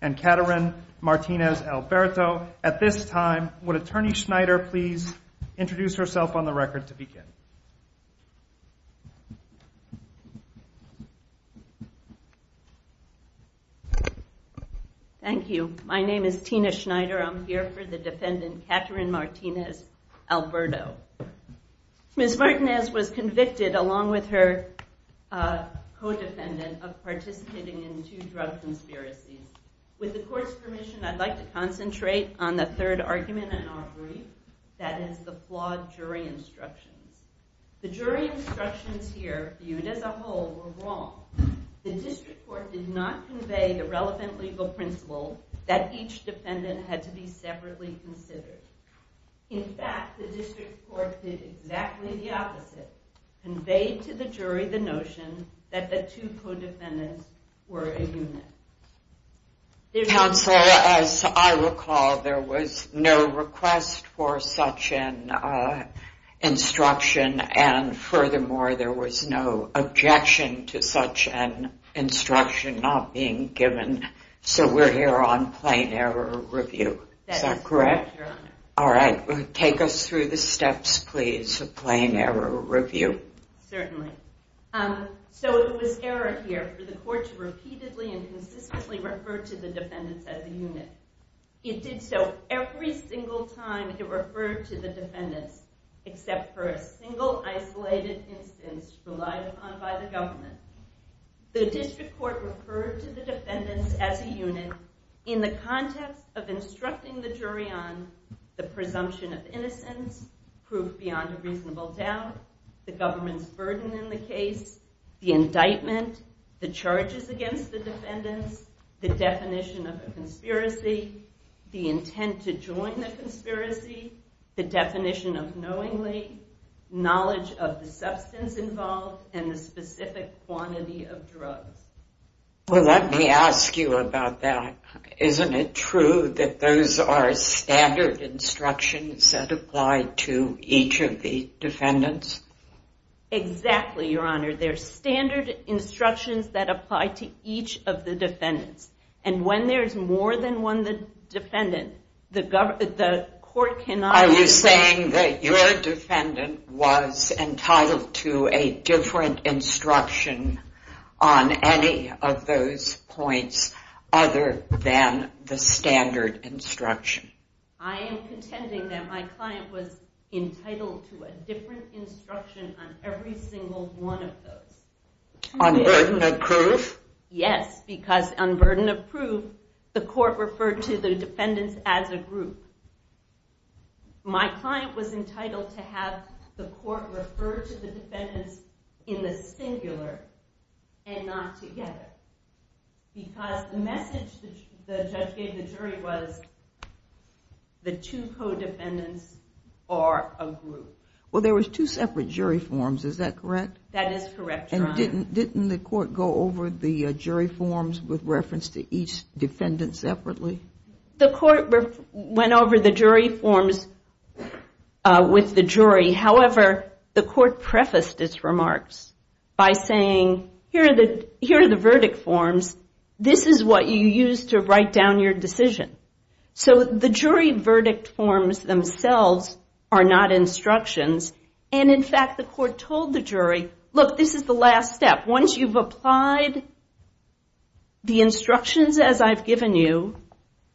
and Caterin Martinez-Alberto. At this time, would Attorney Schneider please introduce herself on the record to begin? Thank you. My name is Tina Schneider. I'm here for the defendant Caterin Martinez-Alberto. Ms. Martinez was convicted along with her co-defendant of participating in two drug conspiracies. With the court's permission, I'd like to concentrate on the third argument in our brief, that is the flawed jury instructions. The jury instructions here viewed as a whole were wrong. The district court did not convey the relevant legal principle that each defendant had to be separately considered. In fact, the district court did exactly the opposite, conveyed to the jury the notion that the two co-defendants were a unit. Counsel, as I recall, there was no request for such an instruction, and furthermore, there was no objection to such an instruction not being given. So we're here on plain error review. Is that correct? That is correct, Your Honor. All right. Take us through the steps, please, of plain error review. Certainly. So it was error here for the court to repeatedly and consistently refer to the defendants as a unit. It did so every single time it referred to the defendants, except for a single isolated instance relied upon by the government. The district court referred to the defendants as a unit in the context of instructing the jury on the presumption of innocence, proof beyond a reasonable doubt, the government's burden in the case, the indictment, the charges against the defendants, the definition of a conspiracy, the intent to join the conspiracy, the definition of knowingly, knowledge of the substance involved, and the specific quantity of drugs. Well, let me ask you about that. Isn't it true that those are standard instructions that apply to each of the defendants? Exactly, Your Honor. They're standard instructions that apply to each of the defendants. And when there's more than one defendant, the court cannot... Are you saying that your defendant was entitled to a different instruction on any of those points other than the standard instruction? I am contending that my client was entitled to a different instruction on every single one of those. Unburdened of proof? Yes, because unburdened of proof, the court referred to the defendants as a group. My client was entitled to have the court refer to the defendants in the singular and not together, because the message the judge gave the jury was the two codependents are a group. Well, there was two separate jury forms, is that correct? That is correct, Your Honor. And didn't the court go over the jury forms with reference to each defendant separately? The court went over the jury forms with the jury. However, the court prefaced its remarks by saying, here are the verdict forms, this is what you use to write down your decision. So the jury verdict forms themselves are not instructions. And in fact, the court told the jury, look, this is the last step. Once you've applied the instructions as I've given you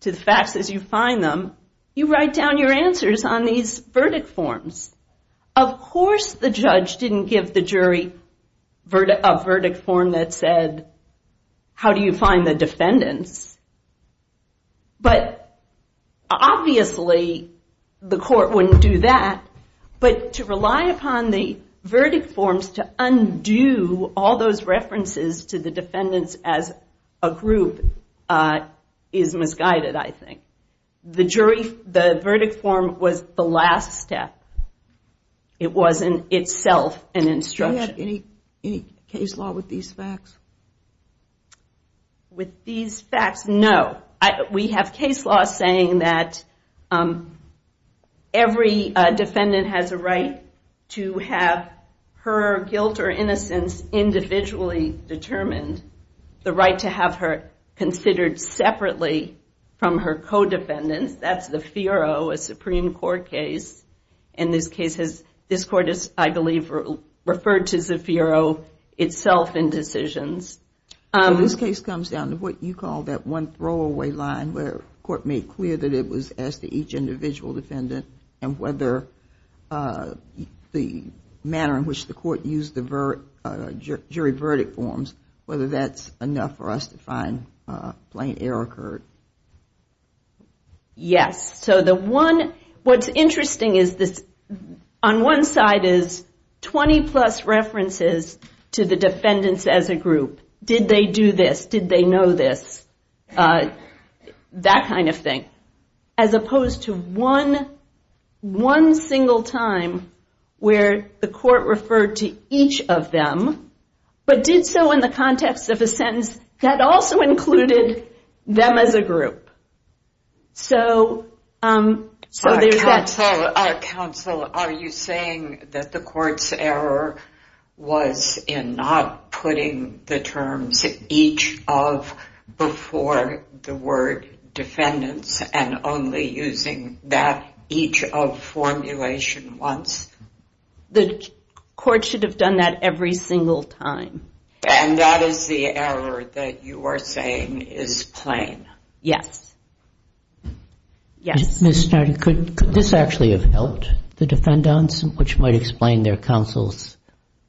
to the facts as you find them, you write down your answers on these verdict forms. Of course, the judge didn't give the jury a verdict form that said, how do you find the defendants? But obviously, the court wouldn't do that. But to rely upon the verdict forms to undo all those references to the defendants as a group is misguided, I think. The verdict form was the last step. It wasn't itself an instruction. Do you have any case law with these facts? With these facts, no. We have case law saying that every defendant has a right to have her guilt or innocence individually determined. The right to have her considered separately from her co-defendants, that's the FIRO, a Supreme Court case. And this case has, this court has, I believe, referred to the FIRO itself in decisions. This case comes down to what you call that one throwaway line where court made clear that it was as to each individual defendant and whether the manner in which the court used the jury verdict forms, whether that's enough for us to find plain error occurred. Yes. So the one, what's interesting is this, on one side is 20 plus references to the defendants as a group. Did they do this? Did they know this? That kind of thing. As opposed to one, one single time where the court referred to each of them, but did so in the context of a sentence that also included them as a group. So there's that. Counsel, are you saying that the court's error was in not putting the terms each of before the word defendants and only using that each of formulation once? The court should have done that every single time. And that is the error that you are saying is plain? Yes. Yes. Ms. Snider, could this actually have helped the defendants, which might explain their counsel's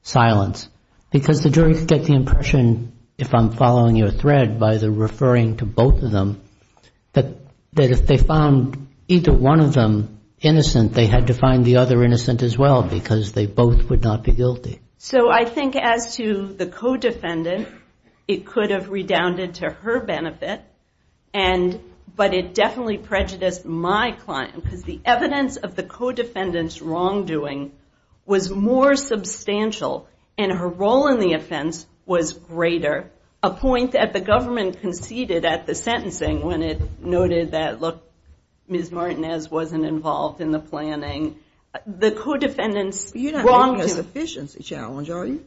silence? Because the jury could get the impression, if I'm following your thread, by the referring to both of them, that if they found either one of them innocent, they had to find the other innocent as well, because they both would not be guilty. So I think as to the co-defendant, it could have redounded to her benefit, but it definitely prejudiced my client because the evidence of the co-defendant's wrongdoing was more substantial and her role in the offense was greater, a point that the government conceded at the sentencing when it noted that, look, Ms. Martinez wasn't involved in the planning. You're not making a sufficiency challenge, are you?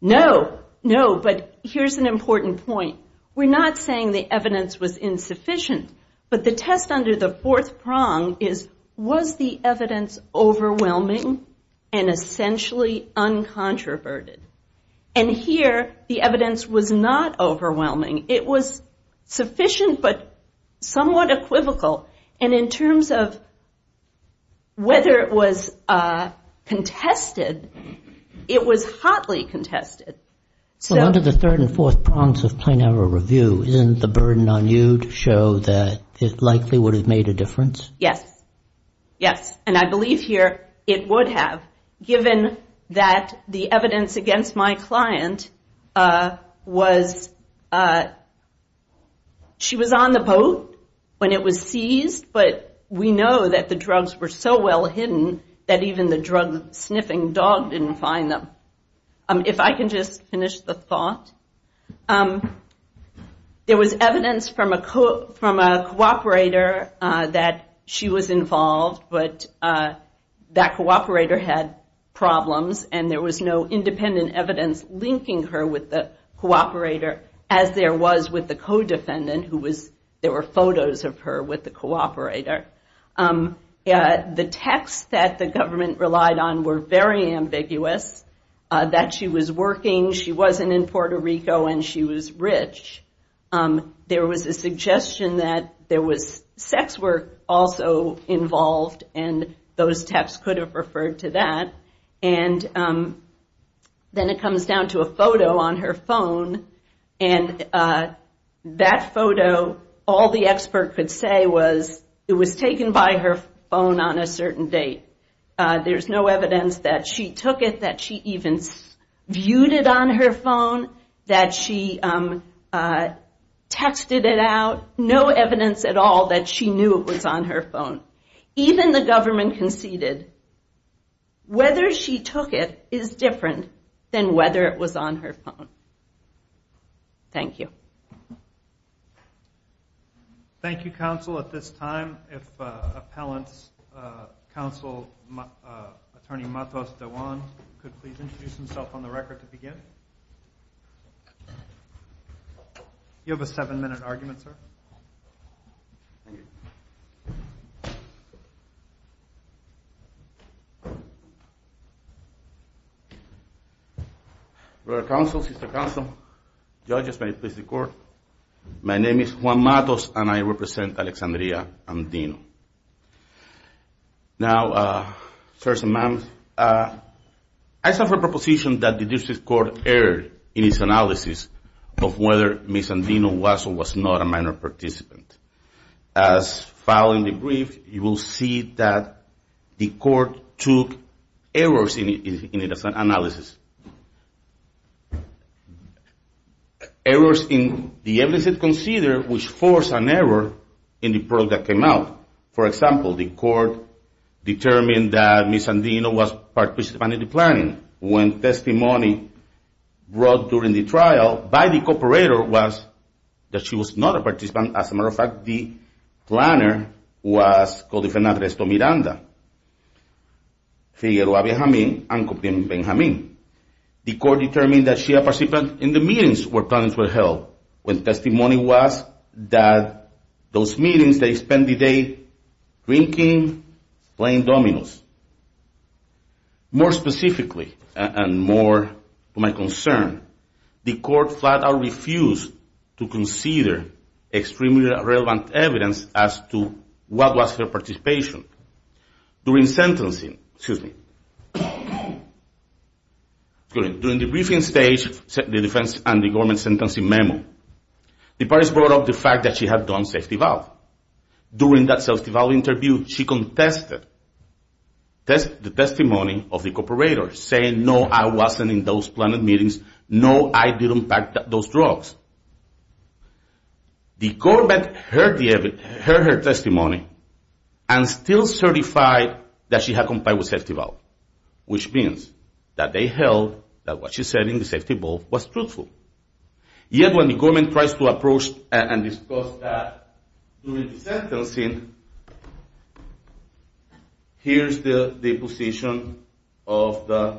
No. No, but here's an important point. We're not saying the evidence was insufficient, but the test under the fourth prong is, was the evidence overwhelming and essentially uncontroverted? And here, the evidence was not overwhelming. It was sufficient but somewhat equivocal. And in terms of whether it was contested, it was hotly contested. So under the third and fourth prongs of plain error review, isn't the burden on you to show that it likely would have made a difference? Yes. Yes. And I believe here it would have, given that the evidence against my client was, she was on the boat when it was seized, but we know that the drugs were so well hidden that even the drug-sniffing dog didn't find them. If I can just finish the thought. There was evidence from a cooperator that she was involved, but that cooperator had problems and there was no independent evidence linking her with the cooperator, as there was with the co-defendant, who was, there were photos of her with the cooperator. The texts that the government relied on were very ambiguous, that she was working, she wasn't in Puerto Rico, and she was rich. There was a suggestion that there was sex work also involved, and those texts could have referred to that. And then it comes down to a photo on her phone, and that photo, all the expert could say was it was taken by her phone on a certain date. There's no evidence that she took it, that she even viewed it on her phone, that she texted it out, no evidence at all that she knew it was on her phone. Even the government conceded whether she took it is different than whether it was on her phone. Thank you. Thank you, counsel. At this time, if appellant's counsel, attorney Matos DeJuan, could please introduce himself on the record to begin. You have a seven-minute argument, sir. Thank you. Your Honor, counsel, sister counsel, judges, may it please the court, my name is Juan Matos and I represent Alexandria Amdino. Now, sirs and ma'ams, I suffer a proposition that the district court erred in its analysis of whether Ms. Amdino was or was not a minor participant. As found in the brief, you will see that the court took errors in its analysis, errors in the evidence it considered which forced an error in the program that came out. For example, the court determined that Ms. Amdino was participating in the planning. When testimony brought during the trial by the cooperator was that she was not a participant. As a matter of fact, the planner was Codifen Andres Tomiranda, Figueroa Benjamin, and Copim Benjamin. The court determined that she participated in the meetings where plans were held. When testimony was that those meetings they spent the day drinking, playing dominoes. More specifically, and more to my concern, the court flat out refused to consider extremely relevant evidence as to what was her participation. During sentencing, excuse me, during the briefing stage, the defense and the government sentencing memo, the parties brought up the fact that she had done safety valve. During that safety valve interview, she contested the testimony of the cooperator saying, no, I wasn't in those planned meetings, no, I didn't pack those drugs. The government heard her testimony and still certified that she had complied with safety valve, which means that they held that what she said in the safety valve was truthful. Yet when the government tries to approach and discuss that during the sentencing, here's the position of the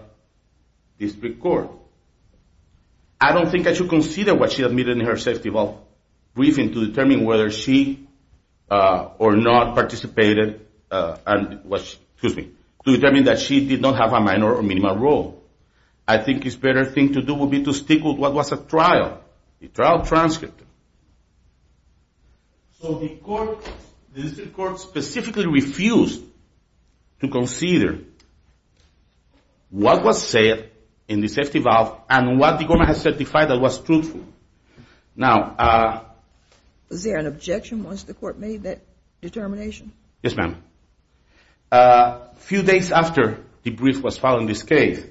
district court. I don't think I should consider what she admitted in her safety valve briefing to determine whether she or not participated, excuse me, to determine that she did not have a minor or minimal role. I think it's better thing to do would be to stick with what was a trial, the trial transcript. So the court, the district court specifically refused to consider what was said in the safety valve and what the government has certified that was truthful. Now, Was there an objection once the court made that determination? Yes, ma'am. A few days after the brief was filed in this case,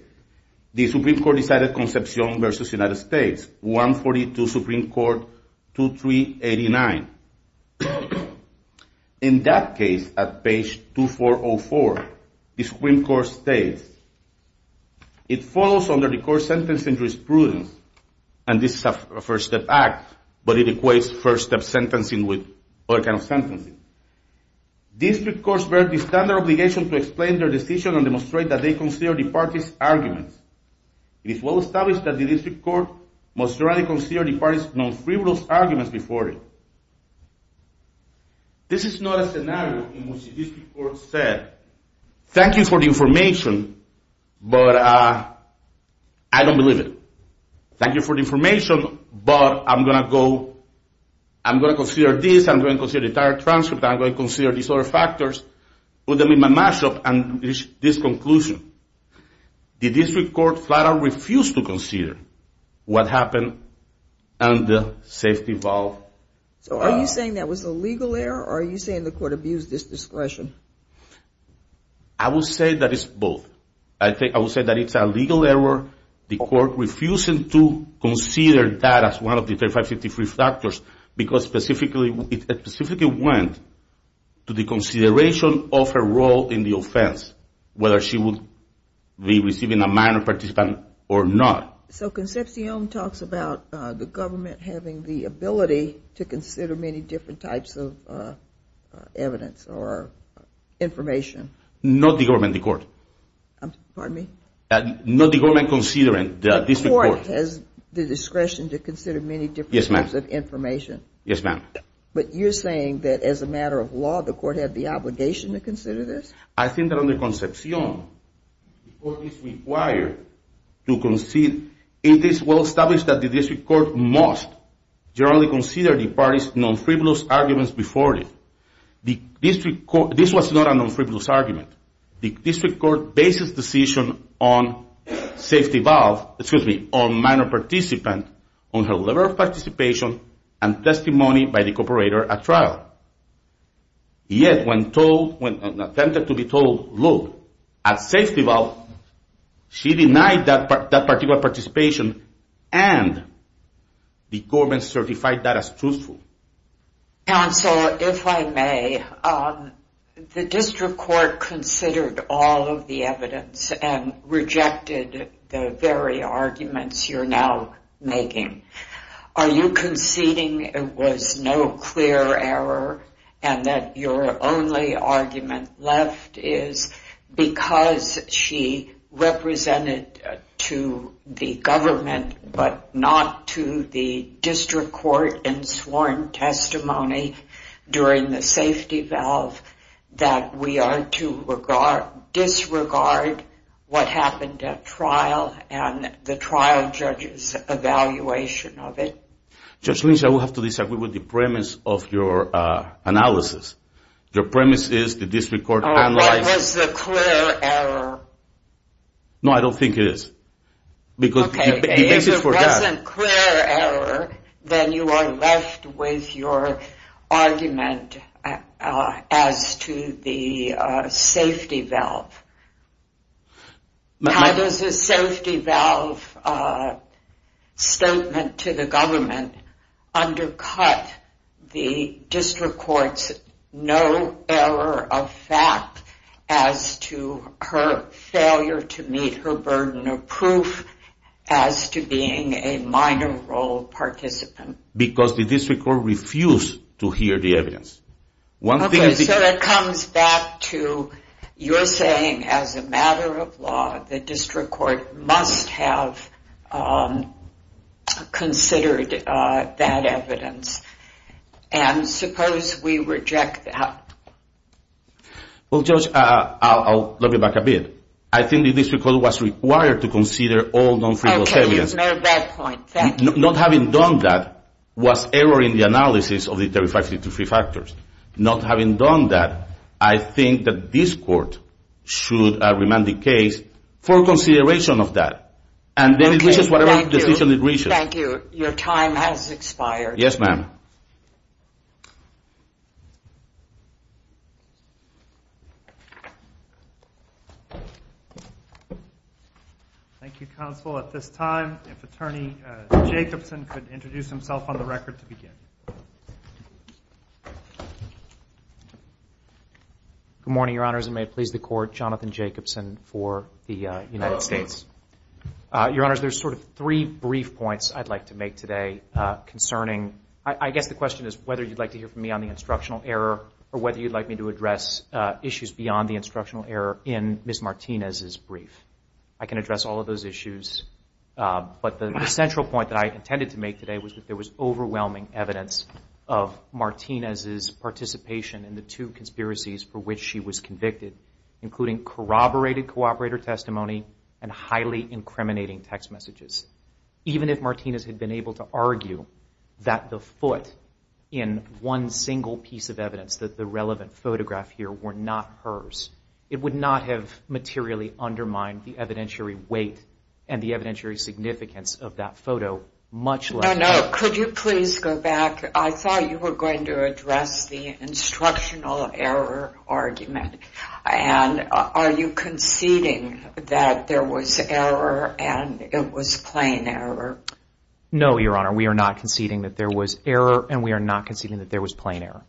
the Supreme Court decided Concepcion v. United States, 142 Supreme Court 2389. In that case, at page 2404, the Supreme Court states, it follows under the court's sentence injurious prudence, and this is a first step act, but it equates first step sentencing with other kind of sentencing. District courts bear the standard obligation to explain their decision and demonstrate that they consider the parties' arguments. It is well established that the district court must thoroughly consider the parties' non-frivolous arguments before it. This is not a scenario in which the district court said, thank you for the information, but I don't believe it. Thank you for the information, but I'm going to go, I'm going to consider this, I'm going to consider the entire transcript, I'm going to consider these other factors, put them in my mashup, and reach this conclusion. The district court flat out refused to consider what happened and the safety valve. So are you saying that was a legal error, or are you saying the court abused its discretion? I will say that it's both. I will say that it's a legal error, the court refusing to consider that as one of the 3553 factors, because it specifically went to the consideration of her role in the offense, whether she would be receiving a minor participant or not. So Concepcion talks about the government having the ability to consider many different types of evidence or information. Not the government, the court. Pardon me? Not the government considering the district court. The district court has the discretion to consider many different types of information. Yes, ma'am. But you're saying that as a matter of law, the court had the obligation to consider this? I think that under Concepcion, the court is required to concede. It is well established that the district court must generally consider the parties' non-frivolous arguments before it. This was not a non-frivolous argument. The district court bases the decision on safety valve, excuse me, on minor participant, on her level of participation and testimony by the cooperator at trial. Yet when told, when attempted to be told, look, at safety valve, she denied that particular participation Counsel, if I may, the district court considered all of the evidence and rejected the very arguments you're now making. Are you conceding it was no clear error and that your only argument left is because she represented to the government but not to the district court in sworn testimony during the safety valve that we are to disregard what happened at trial and the trial judge's evaluation of it? Judge Lynch, I would have to disagree with the premise of your analysis. Your premise is the district court analyzed Oh, it was a clear error. No, I don't think it is. Okay, if it wasn't clear error, then you are left with your argument as to the safety valve. How does the safety valve statement to the government undercut the district court's no error of fact as to her failure to meet her burden of proof as to being a minor role participant? Because the district court refused to hear the evidence. Okay, so that comes back to your saying as a matter of law, the district court must have considered that evidence. And suppose we reject that? Well, Judge, I'll look it back a bit. I think the district court was required to consider all non-freehold statements. Okay, you've made that point. Thank you. Not having done that was error in the analysis of the 3553 factors. Not having done that, I think that this court should remand the case for consideration of that. And then it reaches whatever decision it reaches. Thank you. Your time has expired. Yes, ma'am. Thank you. Thank you, Counsel. At this time, if Attorney Jacobson could introduce himself on the record to begin. Good morning, Your Honors. And may it please the Court, Jonathan Jacobson for the United States. Your Honors, there's sort of three brief points I'd like to make today concerning I guess the question is whether you'd like to hear from me on the instructional error or whether you'd like me to address issues beyond the instructional error in Ms. Martinez's brief. I can address all of those issues. But the central point that I intended to make today was that there was overwhelming evidence of Martinez's participation in the two conspiracies for which she was convicted, including corroborated cooperator testimony and highly incriminating text messages. Even if Martinez had been able to argue that the foot in one single piece of evidence, that the relevant photograph here were not hers, it would not have materially undermined the evidentiary weight and the evidentiary significance of that photo much less. No, no. Could you please go back? I thought you were going to address the instructional error argument. And are you conceding that there was error and it was plain error? No, Your Honor. We are not conceding that there was error and we are not conceding that there was plain error.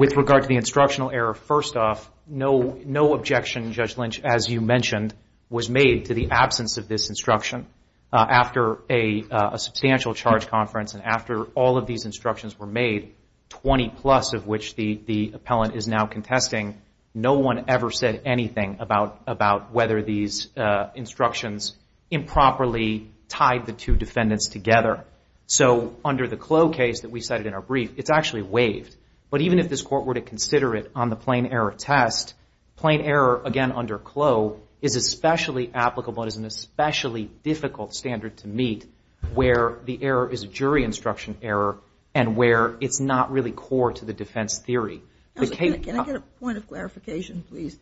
With regard to the instructional error, first off, no objection, Judge Lynch, as you mentioned, was made to the absence of this instruction after a substantial charge conference and after all of these instructions were made, 20 plus of which the appellant is now contesting, no one ever said anything about whether these instructions improperly tied the two defendants together. So under the Clough case that we cited in our brief, it's actually waived. But even if this Court were to consider it on the plain error test, plain error, again, under Clough, is especially applicable and is an especially difficult standard to meet where the error is a jury instruction error and where it's not really core to the defense theory. Can I get a point of clarification, please?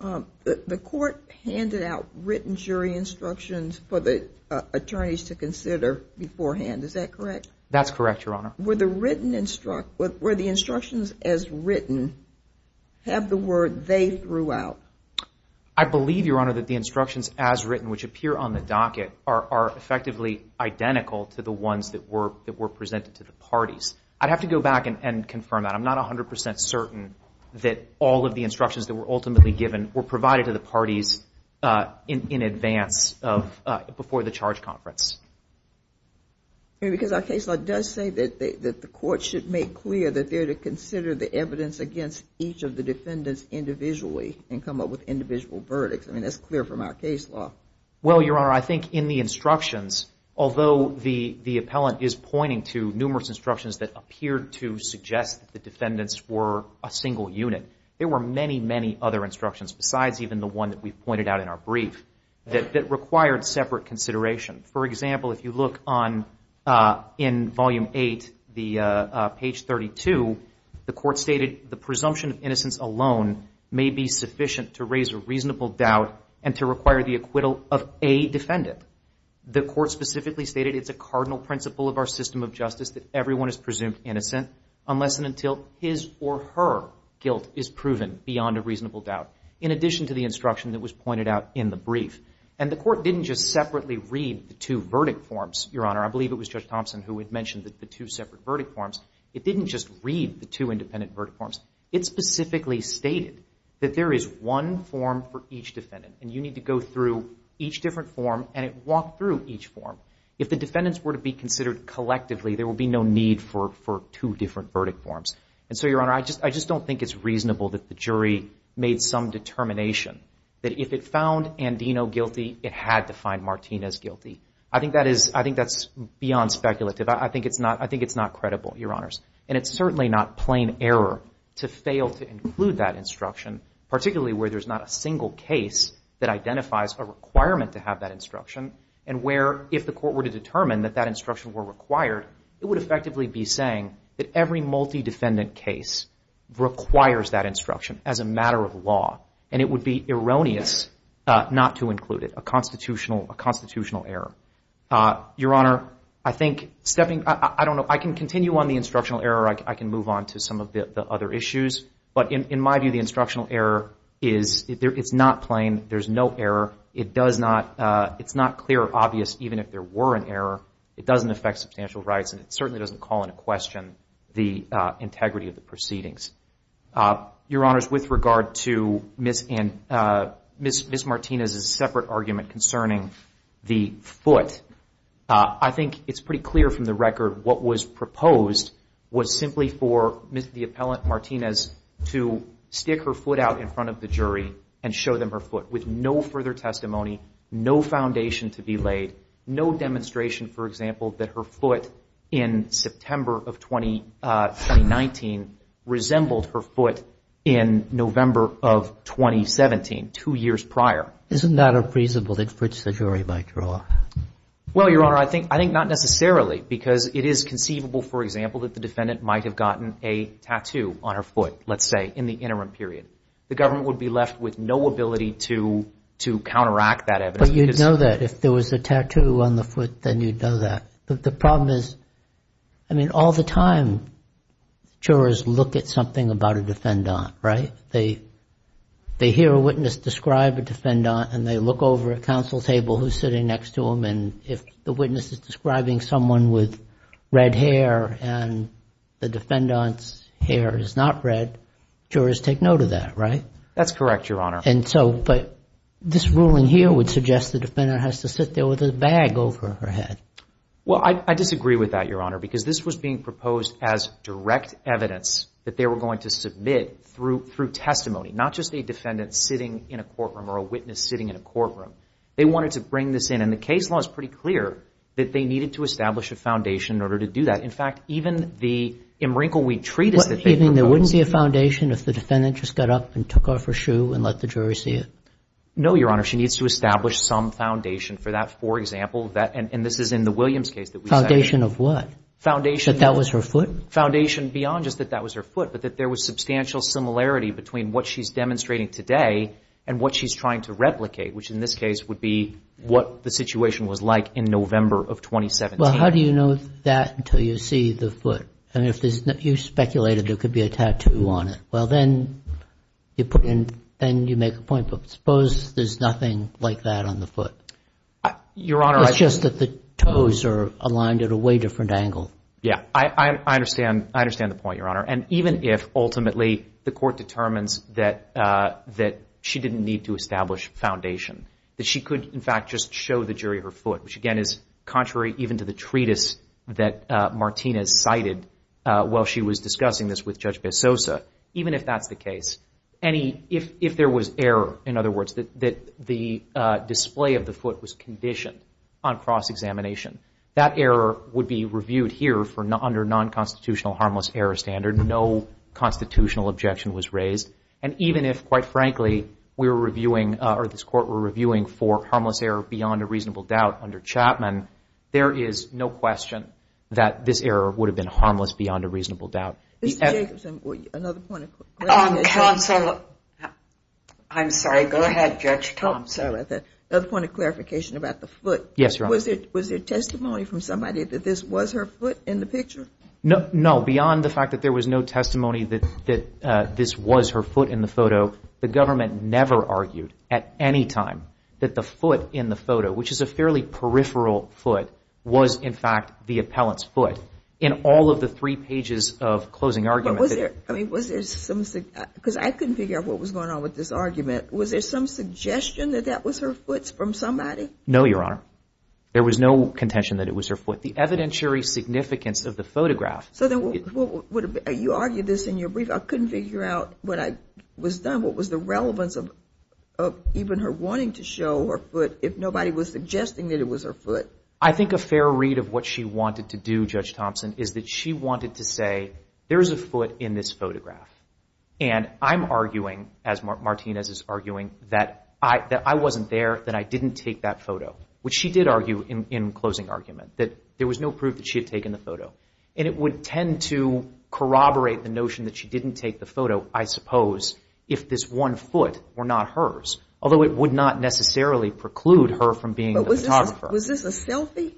The Court handed out written jury instructions for the attorneys to consider beforehand. Is that correct? That's correct, Your Honor. Were the instructions as written, have the word they threw out? I believe, Your Honor, that the instructions as written, which appear on the docket, are effectively identical to the ones that were presented to the parties. I'd have to go back and confirm that. I'm not 100 percent certain that all of the instructions that were ultimately given were provided to the parties in advance before the charge conference. Because our case law does say that the Court should make clear that they're to consider the evidence against each of the defendants individually and come up with individual verdicts. I mean, that's clear from our case law. Well, Your Honor, I think in the instructions, although the appellant is pointing to numerous instructions that appear to suggest that the defendants were a single unit, there were many, many other instructions, besides even the one that we pointed out in our brief, that required separate consideration. For example, if you look in Volume 8, page 32, the Court stated, the presumption of innocence alone may be sufficient to raise a reasonable doubt and to require the acquittal of a defendant. The Court specifically stated it's a cardinal principle of our system of justice that everyone is presumed innocent unless and until his or her guilt is proven beyond a reasonable doubt, in addition to the instruction that was pointed out in the brief. And the Court didn't just separately read the two verdict forms, Your Honor. I believe it was Judge Thompson who had mentioned the two separate verdict forms. It didn't just read the two independent verdict forms. It specifically stated that there is one form for each defendant, and you need to go through each different form, and it walked through each form. If the defendants were to be considered collectively, there would be no need for two different verdict forms. And so, Your Honor, I just don't think it's reasonable that the jury made some determination that if it found Andino guilty, it had to find Martinez guilty. I think that's beyond speculative. I think it's not credible, Your Honors. And it's certainly not plain error to fail to include that instruction, particularly where there's not a single case that identifies a requirement to have that instruction, and where if the Court were to determine that that instruction were required, it would effectively be saying that every multi-defendant case requires that instruction as a matter of law, and it would be erroneous not to include it, a constitutional error. Your Honor, I think stepping, I don't know, I can continue on the instructional error. I can move on to some of the other issues. But in my view, the instructional error is, it's not plain. There's no error. It does not, it's not clear or obvious even if there were an error. It doesn't affect substantial rights, and it certainly doesn't call into question the integrity of the proceedings. Your Honors, with regard to Ms. Martinez's separate argument concerning the foot, I think it's pretty clear from the record what was proposed was simply for the appellant, Martinez, to stick her foot out in front of the jury and show them her foot, with no further testimony, no foundation to be laid, no demonstration, for example, that her foot in September of 2019 resembled her foot in November of 2017, two years prior. Isn't that a presumable inference the jury might draw? Well, Your Honor, I think not necessarily, because it is conceivable, for example, that the defendant might have gotten a tattoo on her foot, let's say, in the interim period. The government would be left with no ability to counteract that evidence. But you'd know that if there was a tattoo on the foot, then you'd know that. But the problem is, I mean, all the time, jurors look at something about a defendant, right? They hear a witness describe a defendant, and they look over at counsel's table, who's sitting next to them, and if the witness is describing someone with red hair and the defendant's hair is not red, jurors take note of that, right? That's correct, Your Honor. And so, but this ruling here would suggest the defendant has to sit there with a bag over her head. Well, I disagree with that, Your Honor, because this was being proposed as direct evidence that they were going to submit through testimony, not just a defendant sitting in a courtroom or a witness sitting in a courtroom. They wanted to bring this in, and the case law is pretty clear that they needed to establish a foundation in order to do that. In fact, even the in-wrinkle-weed treatise that they proposed— No, Your Honor. She needs to establish some foundation for that. For example, and this is in the Williams case that we cited— Foundation of what? Foundation— That that was her foot? Foundation beyond just that that was her foot, but that there was substantial similarity between what she's demonstrating today and what she's trying to replicate, which in this case would be what the situation was like in November of 2017. Well, how do you know that until you see the foot? I mean, you speculated there could be a tattoo on it. Well, then you make a point, but suppose there's nothing like that on the foot. Your Honor, I— It's just that the toes are aligned at a way different angle. Yeah, I understand the point, Your Honor, and even if ultimately the court determines that she didn't need to establish foundation, that she could, in fact, just show the jury her foot, which again is contrary even to the treatise that Martinez cited while she was discussing this with Judge Bessosa, even if that's the case, any—if there was error, in other words, that the display of the foot was conditioned on cross-examination, that error would be reviewed here under non-constitutional harmless error standard. No constitutional objection was raised, and even if, quite frankly, we were reviewing or this court were reviewing for harmless error beyond a reasonable doubt under Chapman, there is no question that this error would have been harmless beyond a reasonable doubt. Mr. Jacobson, another point of— Counsel—I'm sorry. Go ahead, Judge Thompson. Another point of clarification about the foot. Yes, Your Honor. Was there testimony from somebody that this was her foot in the picture? No. Beyond the fact that there was no testimony that this was her foot in the photo, the government never argued at any time that the foot in the photo, which is a fairly peripheral foot, was, in fact, the appellant's foot. In all of the three pages of closing argument— But was there—I mean, was there some—because I couldn't figure out what was going on with this argument. Was there some suggestion that that was her foot from somebody? No, Your Honor. There was no contention that it was her foot. The evidentiary significance of the photograph— So then what would have—you argued this in your brief. I couldn't figure out when I was done. What was the relevance of even her wanting to show her foot if nobody was suggesting that it was her foot? I think a fair read of what she wanted to do, Judge Thompson, is that she wanted to say there is a foot in this photograph. And I'm arguing, as Martinez is arguing, that I wasn't there, that I didn't take that photo, which she did argue in closing argument, that there was no proof that she had taken the photo. And it would tend to corroborate the notion that she didn't take the photo, I suppose, if this one foot were not hers, although it would not necessarily preclude her from being the photographer. Was this a selfie?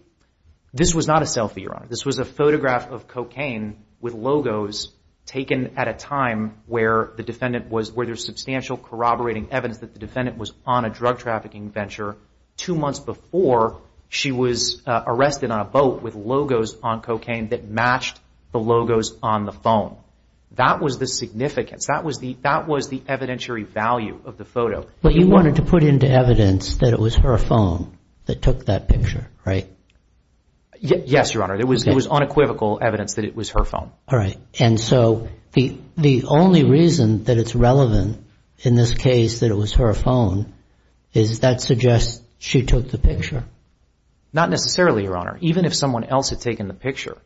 This was not a selfie, Your Honor. This was a photograph of cocaine with logos taken at a time where the defendant was— where there's substantial corroborating evidence that the defendant was on a drug trafficking venture two months before she was arrested on a boat with logos on cocaine that matched the logos on the phone. That was the significance. That was the evidentiary value of the photo. But you wanted to put into evidence that it was her phone that took that picture, right? Yes, Your Honor. It was unequivocal evidence that it was her phone. All right. And so the only reason that it's relevant in this case that it was her phone is that suggests she took the picture. Not necessarily, Your Honor. Even if someone else had taken the picture,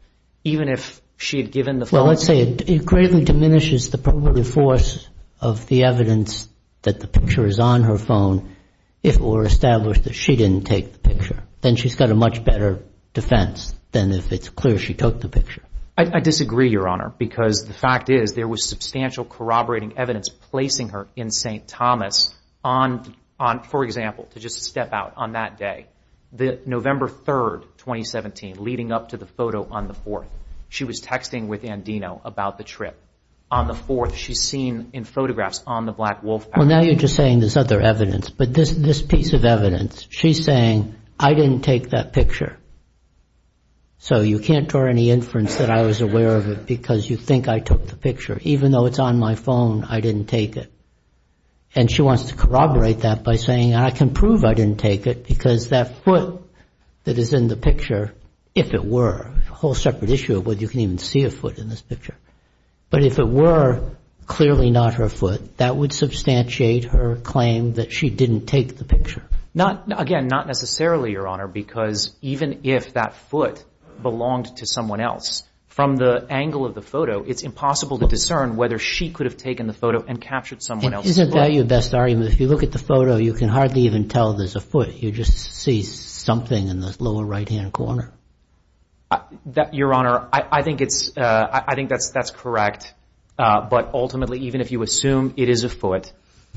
even if she had given the phone— Well, let's say it greatly diminishes the probability force of the evidence that the picture is on her phone if it were established that she didn't take the picture. Then she's got a much better defense than if it's clear she took the picture. I disagree, Your Honor, because the fact is there was substantial corroborating evidence placing her in St. Thomas on— for example, to just step out on that day, November 3, 2017, leading up to the photo on the 4th. She was texting with Andino about the trip. On the 4th, she's seen in photographs on the Black Wolf— Well, now you're just saying there's other evidence. But this piece of evidence, she's saying, I didn't take that picture, so you can't draw any inference that I was aware of it because you think I took the picture. Even though it's on my phone, I didn't take it. And she wants to corroborate that by saying, I can prove I didn't take it because that foot that is in the picture, if it were— a whole separate issue of whether you can even see a foot in this picture. But if it were clearly not her foot, that would substantiate her claim that she didn't take the picture. Again, not necessarily, Your Honor, because even if that foot belonged to someone else, from the angle of the photo, it's impossible to discern whether she could have taken the photo and captured someone else's foot. Isn't that your best argument? If you look at the photo, you can hardly even tell there's a foot. You just see something in the lower right-hand corner. Your Honor, I think that's correct. But ultimately, even if you assume it is a foot,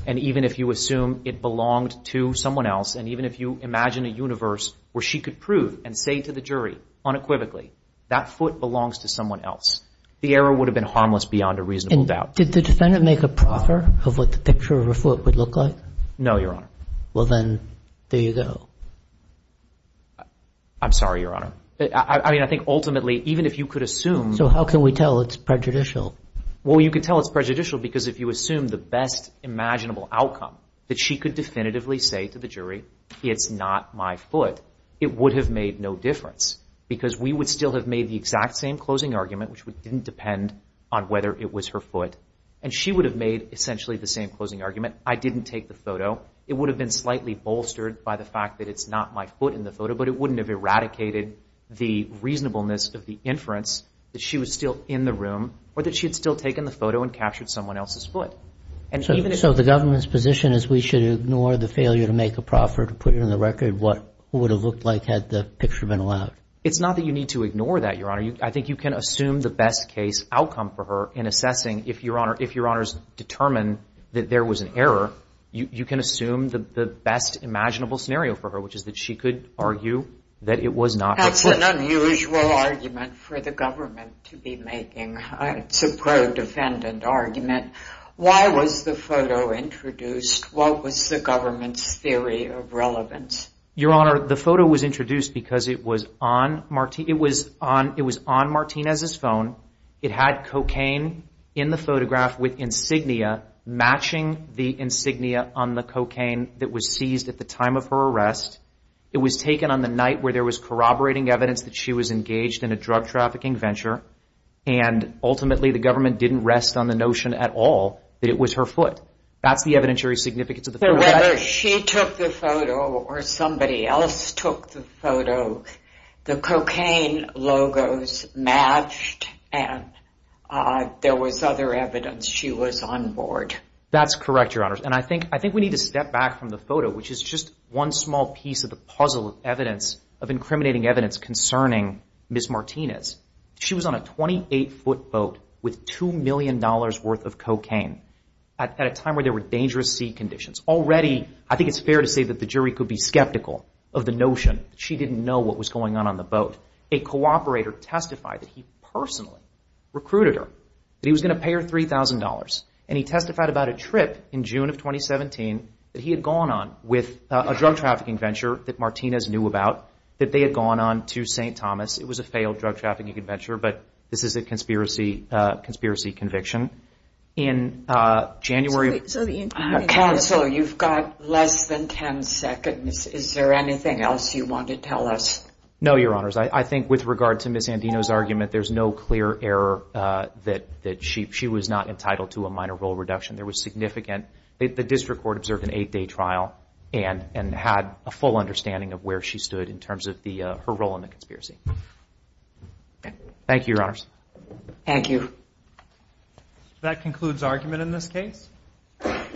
and even if you assume it belonged to someone else, and even if you imagine a universe where she could prove and say to the jury unequivocally, that foot belongs to someone else, the error would have been harmless beyond a reasonable doubt. Did the defendant make a proffer of what the picture of her foot would look like? No, Your Honor. Well, then, there you go. I'm sorry, Your Honor. I mean, I think ultimately, even if you could assume— So how can we tell it's prejudicial? Well, you could tell it's prejudicial because if you assume the best imaginable outcome, that she could definitively say to the jury, it's not my foot, it would have made no difference, because we would still have made the exact same closing argument, which didn't depend on whether it was her foot. And she would have made essentially the same closing argument. I didn't take the photo. It would have been slightly bolstered by the fact that it's not my foot in the photo, but it wouldn't have eradicated the reasonableness of the inference that she was still in the room or that she had still taken the photo and captured someone else's foot. So the government's position is we should ignore the failure to make a proffer to put it on the record what it would have looked like had the picture been allowed. It's not that you need to ignore that, Your Honor. I think you can assume the best case outcome for her in assessing if, Your Honor, if Your Honors determine that there was an error, you can assume the best imaginable scenario for her, which is that she could argue that it was not her foot. That's an unusual argument for the government to be making. It's a pro-defendant argument. Why was the photo introduced? What was the government's theory of relevance? Your Honor, the photo was introduced because it was on Martinez's phone. It had cocaine in the photograph with insignia matching the insignia on the cocaine that was seized at the time of her arrest. It was taken on the night where there was corroborating evidence that she was engaged in a drug trafficking venture, and ultimately the government didn't rest on the notion at all that it was her foot. That's the evidentiary significance of the photo. Whether she took the photo or somebody else took the photo, the cocaine logos matched and there was other evidence she was on board. That's correct, Your Honors, and I think we need to step back from the photo, which is just one small piece of the puzzle of evidence, of incriminating evidence concerning Ms. Martinez. She was on a 28-foot boat with $2 million worth of cocaine at a time where there were dangerous sea conditions. Already, I think it's fair to say that the jury could be skeptical of the notion that she didn't know what was going on on the boat. A cooperator testified that he personally recruited her, that he was going to pay her $3,000, and he testified about a trip in June of 2017 that he had gone on with a drug trafficking venture that Martinez knew about that they had gone on to St. Thomas. It was a failed drug trafficking venture, but this is a conspiracy conviction. In January... Counsel, you've got less than 10 seconds. Is there anything else you want to tell us? No, Your Honors. I think with regard to Ms. Andino's argument, there's no clear error that she was not entitled to a minor role reduction. There was significant... The district court observed an eight-day trial and had a full understanding of where she stood in terms of her role in the conspiracy. Thank you, Your Honors. Thank you. That concludes argument in this case.